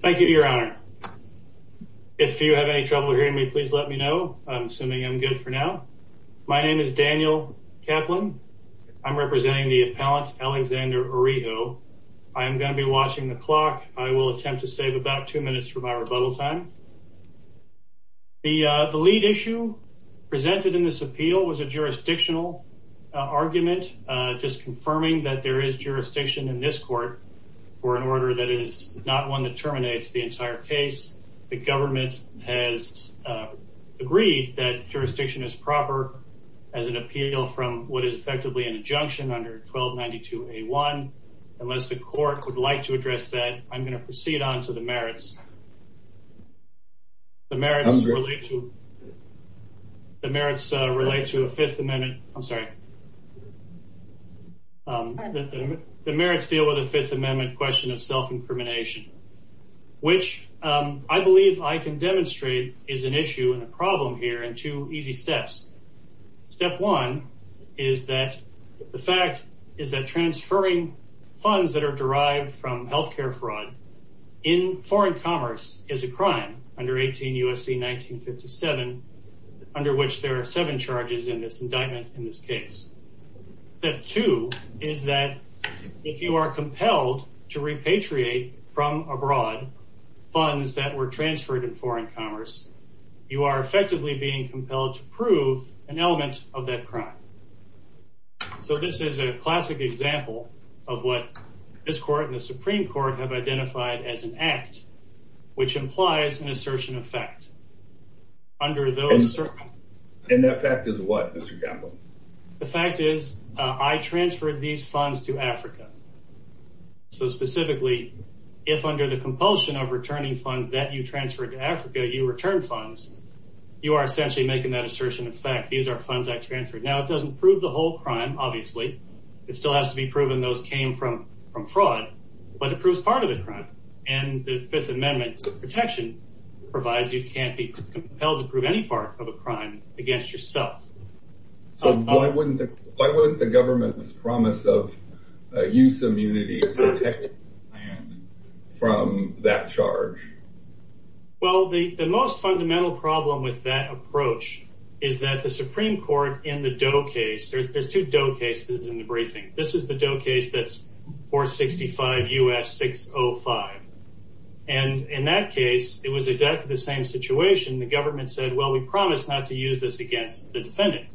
Thank you, Your Honor. If you have any trouble hearing me, please let me know. I'm assuming I'm good for now. My name is Daniel Kaplan. I'm representing the appellant Alexander Oriho. I'm going to be watching the clock. I will attempt to save about two minutes for my rebuttal time. The lead issue presented in this appeal was a jurisdictional argument, just confirming that there is jurisdiction in this court for an order that is not one that terminates the entire case. The government has agreed that jurisdiction is proper as an appeal from what is effectively an injunction under 1292A1. Unless the court would like to address that, I'm going to proceed on to the merits. The merits relate to a Fifth Amendment question of self-incrimination, which I believe I can demonstrate is an issue and a problem here in two easy steps. Step one is that the fact is that transferring funds that are derived from health care fraud in foreign commerce is a crime under 18 U.S.C. 1957, under which there are seven charges in this indictment in this case. Step two is that if you are compelled to repatriate from abroad funds that were transferred in foreign commerce, you are effectively being compelled to prove an element of that crime. So this is a classic example of what this court and the Supreme Court have identified as an act, which implies an assertion of fact. And that fact is what, Mr. Gamble? You are essentially making that assertion of fact. These are funds I transferred. Now, it doesn't prove the whole crime, obviously. It still has to be proven those came from fraud, but it proves part of the crime. And the Fifth Amendment protection provides you can't be compelled to prove any part of a crime against yourself. So why wouldn't the government's promise of use immunity protect you from that charge? Well, the most fundamental problem with that approach is that the Supreme Court in the Doe case, there's two Doe cases in the briefing. This is the Doe case that's 465 U.S. 605. And in that case, it was exactly the same situation. The government said, well, we promise not to use this against the defendant.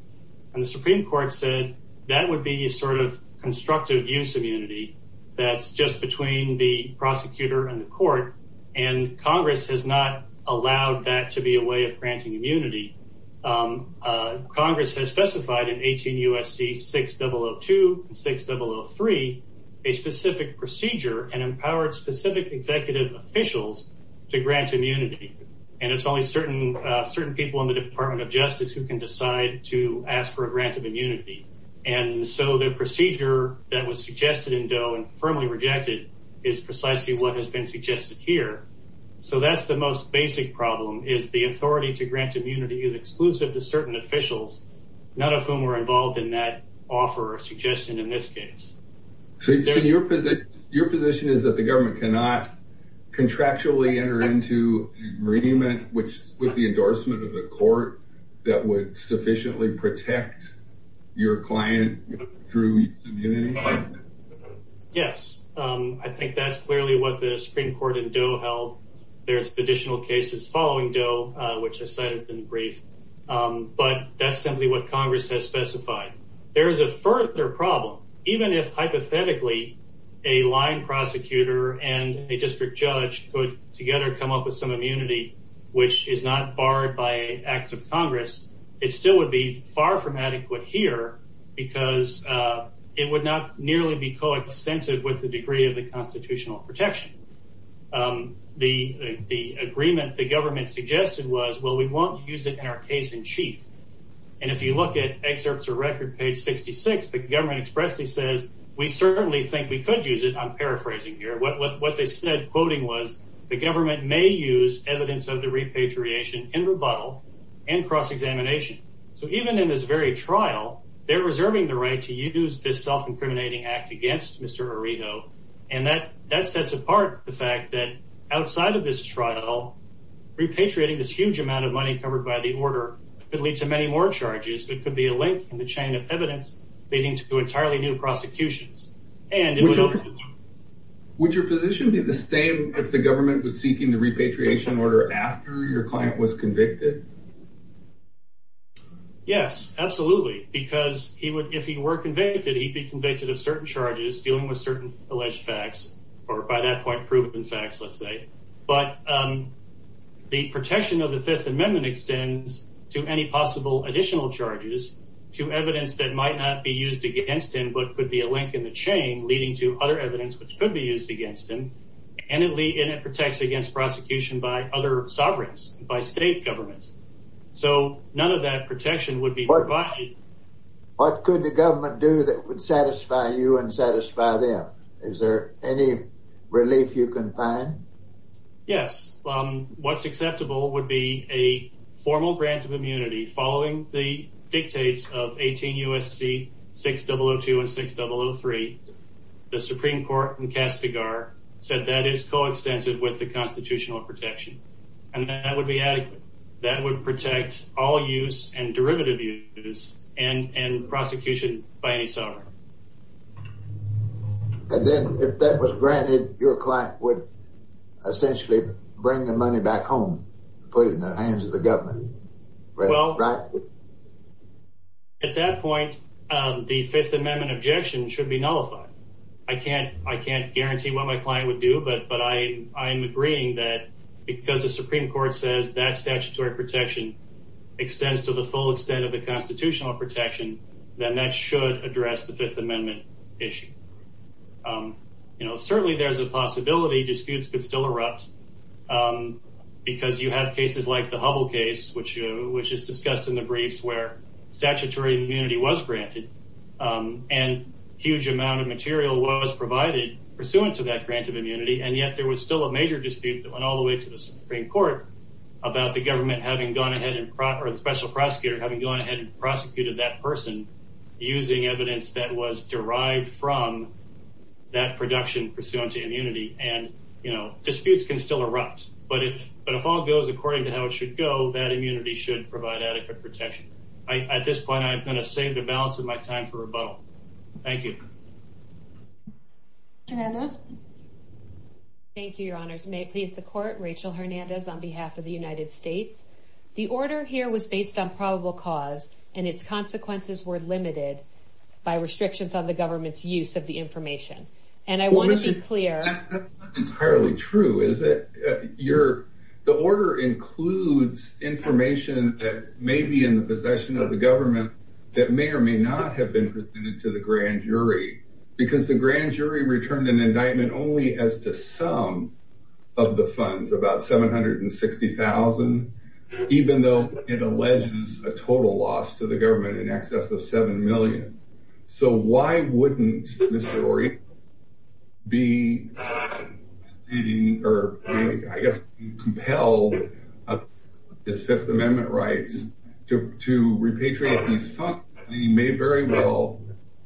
And the Supreme Court said that would be a sort of constructive use immunity that's just between the prosecutor and the court. And Congress has not allowed that to be a way of granting immunity. Congress has specified in 18 U.S.C. 6002 and 6003 a specific procedure and empowered specific executive officials to grant immunity. And it's only certain people in the Department of Justice who can decide to ask for a grant of immunity. And so the procedure that was suggested in Doe and firmly rejected is precisely what has been suggested here. So that's the most basic problem is the authority to grant immunity is exclusive to certain officials, none of whom were involved in that offer or suggestion in this case. So your position is that the government cannot contractually enter into agreement with the endorsement of the court that would sufficiently protect your client through immunity? Yes, I think that's clearly what the Supreme Court in Doe held. There's additional cases following Doe, which I cited in brief, but that's simply what Congress has specified. There is a further problem. Even if hypothetically a line prosecutor and a district judge could together come up with some immunity, which is not barred by acts of Congress, it still would be far from adequate here because it would not nearly be coextensive with the degree of the constitutional protection. The agreement the government suggested was, well, we won't use it in our case in chief. And if you look at excerpts of record page 66, the government expressly says, we certainly think we could use it. I'm paraphrasing here. What they said, quoting was the government may use evidence of the repatriation in rebuttal and cross-examination. So even in this very trial, they're reserving the right to use this self-incriminating act against Mr. Aredo. And that sets apart the fact that outside of this trial, repatriating this huge amount of money covered by the order could lead to many more charges that could be a link in the chain of evidence leading to entirely new prosecutions. And would your position be the same if the government was seeking the repatriation order after your client was convicted? Yes, absolutely. Because he would, if he were convicted, he'd be convicted of certain charges dealing with certain alleged facts or by that point proven facts, let's say. But the protection of the Fifth Amendment extends to any possible additional charges to evidence that might not be used against him, but could be a link in the chain leading to other evidence which could be used against him. And it protects against prosecution by other sovereigns, by state governments. So none of that protection would be provided. What could the government do that would satisfy you and satisfy them? Is there any relief you can find? Yes. What's acceptable would be a formal grant of immunity following the dictates of 18 U.S.C. 6002 and 6003. The Supreme Court in Kastigar said that is coextensive with the constitutional protection. And that would be adequate. That would protect all use and derivative use and prosecution by any sovereign. And then if that was granted, your client would essentially bring the money back home, put it in the hands of the government. Well, at that point, the Fifth Amendment objection should be nullified. I can't I can't guarantee what my client would do. But but I I'm agreeing that because the Supreme Court says that statutory protection extends to the full extent of the constitutional protection, then that should address the Fifth Amendment issue. You know, certainly there's a possibility disputes could still erupt because you have cases like the Hubble case, which which is discussed in the briefs where statutory immunity was granted. And a huge amount of material was provided pursuant to that grant of immunity. And yet there was still a major dispute that went all the way to the Supreme Court about the government having gone ahead and the special prosecutor having gone ahead and prosecuted that person using evidence that was derived from that production pursuant to immunity. And, you know, disputes can still erupt. But if but if all goes according to how it should go, that immunity should provide adequate protection. At this point, I'm going to save the balance of my time for rebuttal. Thank you. Hernandez. Thank you, Your Honors. May it please the court. Rachel Hernandez on behalf of the United States. The order here was based on probable cause and its consequences were limited by restrictions on the government's use of the information. And I want to be clear. That's not entirely true, is it? You're the order includes information that may be in the possession of the government that may or may not have been presented to the grand jury because the grand jury returned an indictment only as to some of the funds, about seven hundred and sixty thousand, even though it alleges a total loss to the government in excess of seven million. So why wouldn't this story be or I guess compel the Fifth Amendment rights to repatriate? You may very well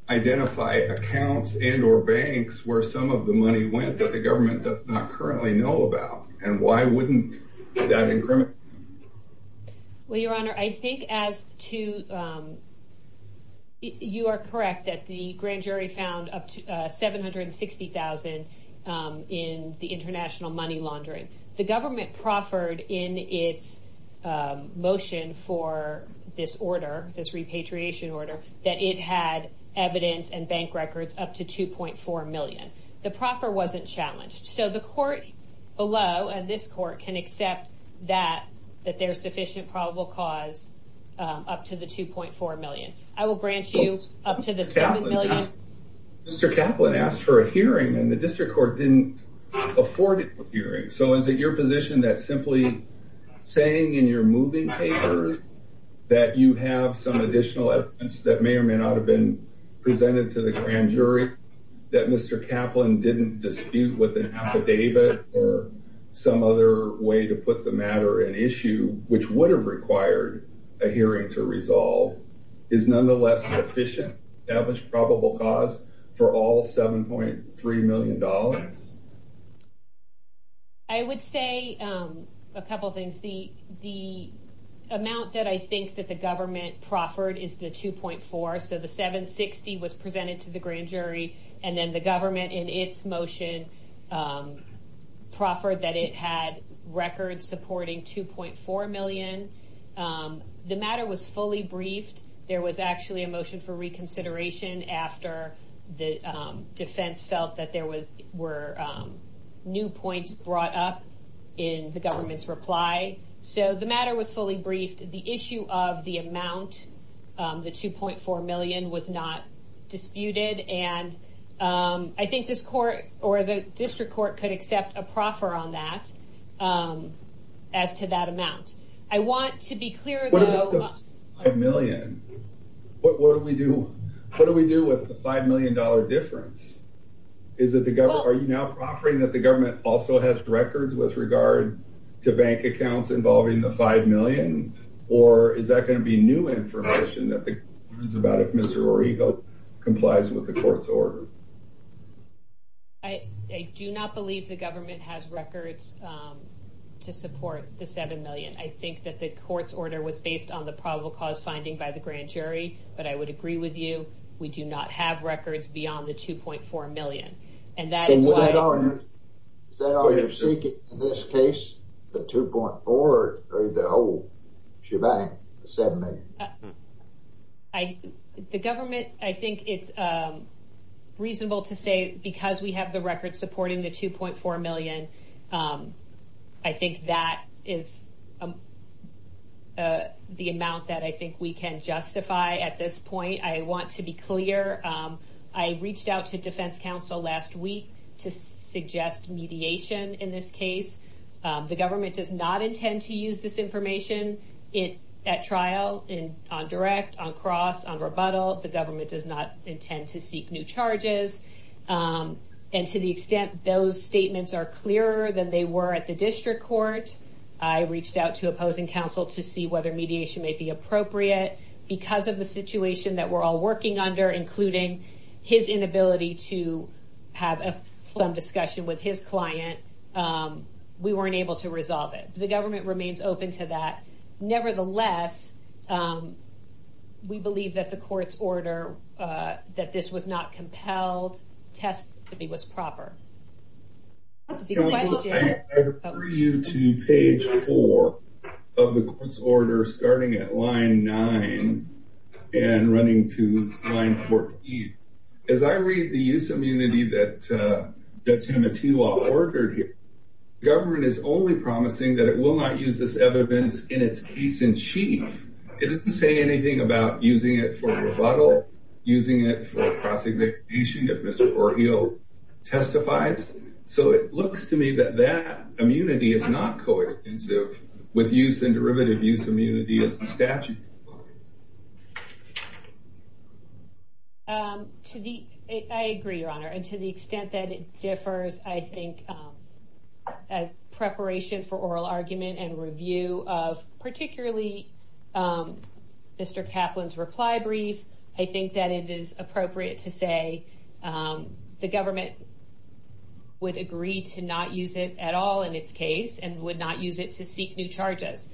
identify accounts and or banks where some of the money went that the government does not currently know about. And why wouldn't that incriminate? Well, Your Honor, I think as to. You are correct that the grand jury found up to seven hundred and sixty thousand in the international money laundering, the government proffered in its motion for this order, this repatriation order, that it had evidence and bank records up to two point four million. The proffer wasn't challenged. So the court below and this court can accept that that there's sufficient probable cause up to the two point four million. I will grant you up to this. Mr. Kaplan asked for a hearing and the district court didn't afford hearing. So is it your position that simply saying in your moving papers that you have some additional evidence that may or may not have been presented to the grand jury that Mr. Kaplan's probable cause for all seven point three million dollars? I would say a couple of things. The the amount that I think that the government proffered is the two point four. So the seven sixty was presented to the grand jury and then the government in its motion proffered that it had records supporting two point four million. The matter was fully briefed. There was actually a motion for reconsideration after the defense felt that there was were new points brought up in the government's reply. So the matter was fully briefed. The issue of the amount, the two point four million was not disputed. And I think this court or the district court could accept a proffer on that as to that amount. I want to be clear. What about the five million? What do we do? What do we do with the five million dollar difference? Is it the government? Are you now offering that the government also has records with regard to bank accounts involving the five million? Or is that going to be new information that the government is about if Mr. Orego complies with the court's order? I do not believe the government has records to support the seven million. I think that the court's order was based on the probable cause finding by the grand jury. But I would agree with you. We do not have records beyond the two point four million. And that is why you're seeking this case, the two point four or the whole shebang seven. I think the government, I think it's reasonable to say because we have the record supporting the two point four million. I think that is the amount that I think we can justify at this point. I want to be clear. I reached out to defense counsel last week to suggest mediation in this case. The government does not intend to use this information it at trial in on direct on cross on rebuttal. The government does not intend to seek new charges. And to the extent those statements are clearer than they were at the district court, I reached out to opposing counsel to see whether mediation may be appropriate because of the situation that we're all working under, including his inability to have some discussion with his client. We weren't able to resolve it. The government remains open to that. Nevertheless, we believe that the court's order that this was not compelled test to be was proper. I refer you to page four of the court's order, starting at line nine and running to line 14. As I read the use of immunity that Timothy Law ordered here, government is only promising that it will not use this evidence in its case in chief. It doesn't say anything about using it for rebuttal, using it for cross-execution if Mr. Orheo testifies. So it looks to me that that immunity is not co-extensive with use and derivative use immunity as the statute requires. To the I agree, your honor, and to the extent that it differs, I think as preparation for oral argument and review of particularly Mr. Kaplan's reply brief, I think that it is appropriate to say the government would agree to not use it at all in its case and would not use it to seek new charges.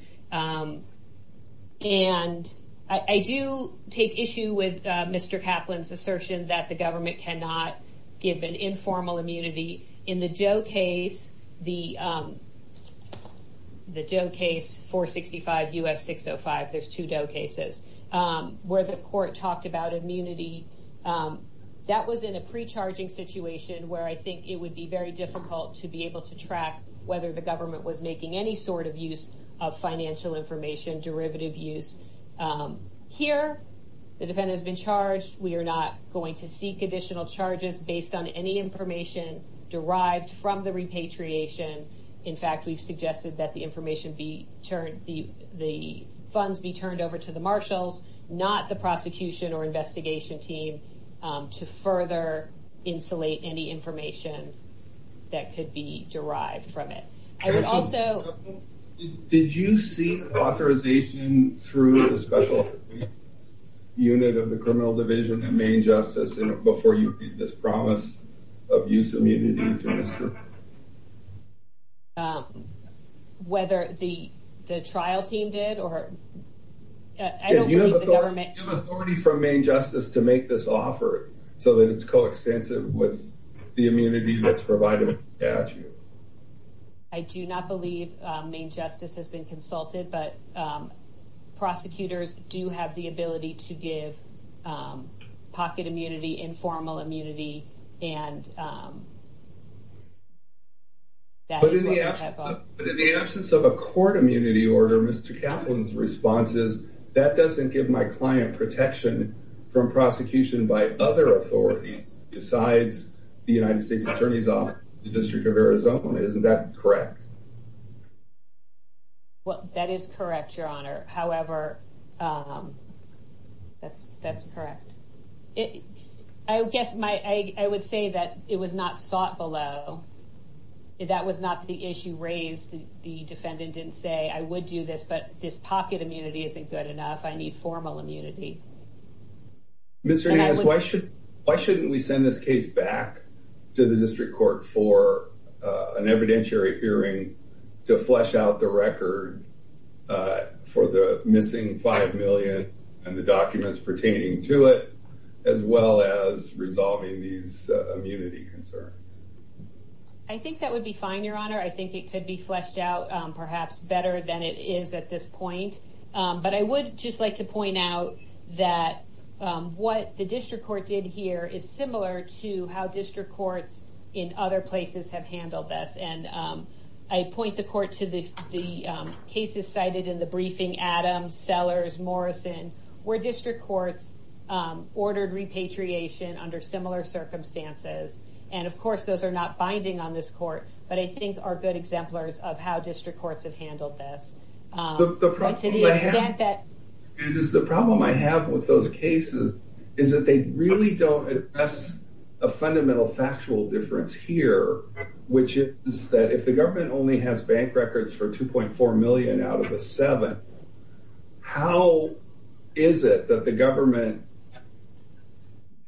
And I do take issue with Mr. Kaplan's assertion that the government cannot give an informal immunity. In the Joe case, the Joe case, 465 U.S. 605, there's two Joe cases where the court talked about immunity. That was in a pre-charging situation where I think it would be very difficult to be able to track whether the government was making any sort of use of financial information, derivative use. Here, the defendant has been charged. We are not going to seek additional charges based on any information derived from the repatriation. In fact, we've suggested that the information be turned, the funds be turned over to the marshals, not the prosecution or investigation team to further insulate any information that could be derived from it. Did you seek authorization through the special unit of the criminal division and main justice before you made this promise of use immunity to Mr. Kaplan? Whether the trial team did or I don't believe the government. Do you have authority from main justice to make this offer so that it's coextensive with the immunity that's provided by statute? I do not believe main justice has been consulted, but prosecutors do have the ability to give pocket immunity, informal immunity and. But in the absence of a court immunity order, Mr. Kaplan's response is that doesn't give my client protection from prosecution by other authorities besides the United States Attorneys Office, the District of Arizona. Isn't that correct? Well, that is correct, Your Honor. However, that's that's correct. I guess my I would say that it was not sought below. That was not the issue raised. The defendant didn't say I would do this, but this pocket immunity isn't good enough. I need formal immunity. Mr. Nance, why should why shouldn't we send this case back to the district court for an evidentiary hearing to flesh out the record for the missing five million and the documents pertaining to it, as well as resolving these immunity concerns? I think that would be fine, Your Honor. I think it could be fleshed out perhaps better than it is at this point. But I would just like to point out that what the district court did here is similar to how district courts in other places have handled this. And I point the court to the cases cited in the briefing, Adams, Sellers, Morrison, where district courts ordered repatriation under similar circumstances. And of course, those are not binding on this court, but I think are good exemplars of how district courts have handled this. The problem I have with those cases is that they really don't address a fundamental factual difference here, which is that if the government only has bank records for two point four million out of a seven. How is it that the government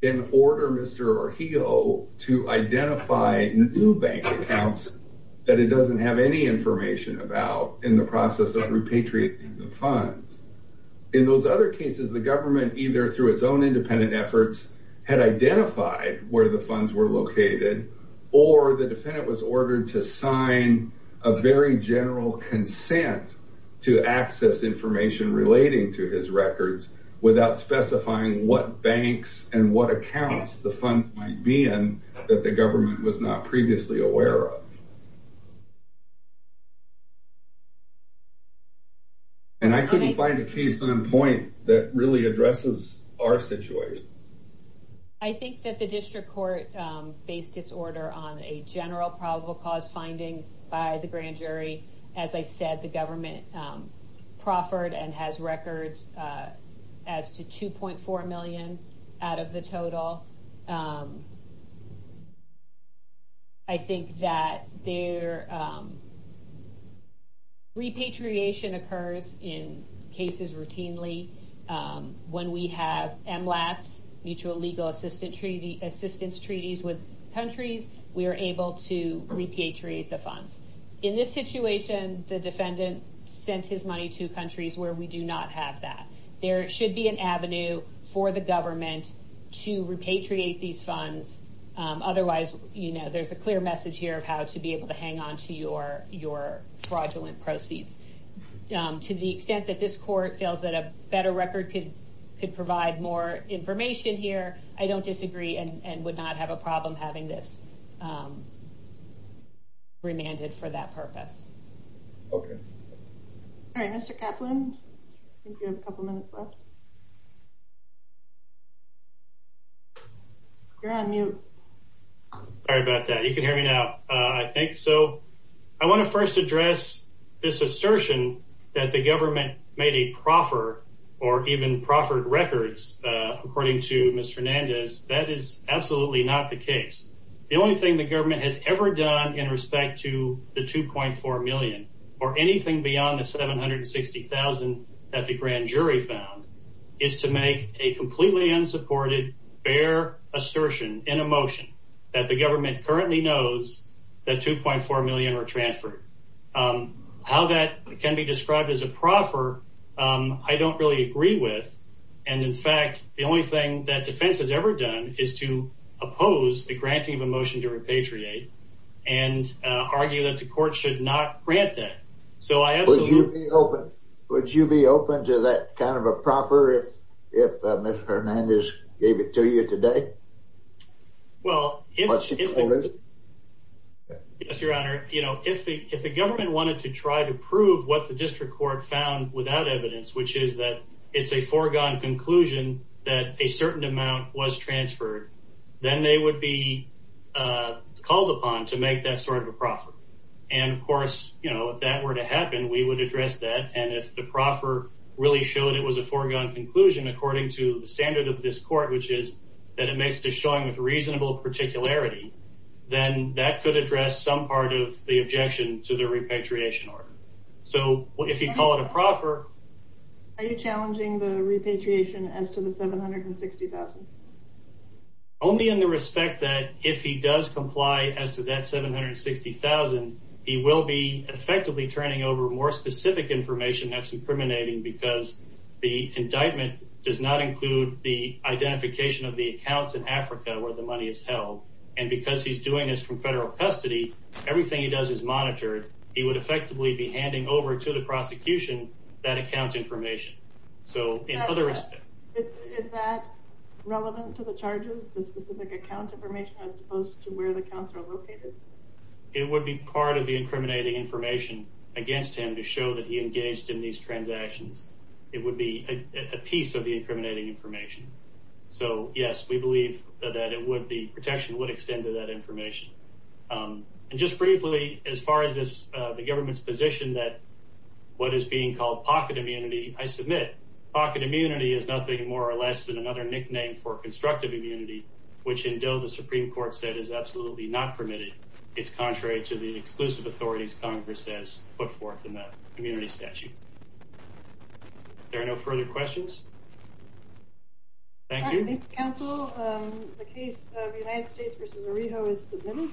in order, Mr. Orheo, to identify new bank accounts that it doesn't have any information about in the process of repatriating the funds? In those other cases, the government either through its own independent efforts had identified where the funds were located or the defendant was ordered to sign a very general consent to access information relating to his records without specifying what banks and what accounts the funds might be in that the government was not previously aware of. And I couldn't find a case on point that really addresses our situation. I think that the district court based its order on a general probable cause finding by the grand jury. As I said, the government proffered and has records as to two point four million out of the total. I think that repatriation occurs in cases routinely. When we have MLATs, mutual legal assistance treaties with countries, we are able to repatriate the funds. In this situation, the defendant sent his money to countries where we do not have that. There should be an avenue for the government to repatriate these funds. Otherwise, there's a clear message here of how to be able to hang on to your fraudulent proceeds. To the extent that this court feels that a better record could provide more information here, I don't disagree and would not have a problem having this remanded for that purpose. Okay. All right, Mr. Kaplan. I think you have a couple minutes left. You're on mute. Sorry about that. You can hear me now, I think. So I want to first address this assertion that the government made a proffer or even proffered records. According to Mr. Hernandez, that is absolutely not the case. The only thing the government has ever done in respect to the $2.4 million or anything beyond the $760,000 that the grand jury found is to make a completely unsupported, bare assertion in a motion that the government currently knows that $2.4 million are transferred. How that can be described as a proffer, I don't really agree with. And in fact, the only thing that defense has ever done is to oppose the granting of a motion to repatriate and argue that the court should not grant that. Would you be open to that kind of a proffer if Mr. Hernandez gave it to you today? Well, if the government wanted to try to prove what the district court found without evidence, which is that it's a foregone conclusion that a certain amount was transferred, then they would be called upon to make that sort of a proffer. And of course, you know, if that were to happen, we would address that. And if the proffer really showed it was a foregone conclusion, according to the standard of this court, which is that it makes the showing with reasonable particularity, then that could address some part of the objection to the repatriation order. So if you call it a proffer, are you challenging the repatriation as to the $760,000? He will be effectively turning over more specific information that's incriminating because the indictment does not include the identification of the accounts in Africa where the money is held. And because he's doing this from federal custody, everything he does is monitored. He would effectively be handing over to the prosecution that account information. Is that relevant to the charges, the specific account information, as opposed to where the accounts are located? It would be part of the incriminating information against him to show that he engaged in these transactions. It would be a piece of the incriminating information. So yes, we believe that the protection would extend to that information. And just briefly, as far as this, the government's position that what is being called pocket immunity, I submit pocket immunity is nothing more or less than another nickname for constructive immunity, which until the Supreme Court said is absolutely not permitted. It's contrary to the exclusive authorities Congress says put forth in the immunity statute. There are no further questions. Thank you. Thank you, counsel. The case of United States v. Arijo is submitted.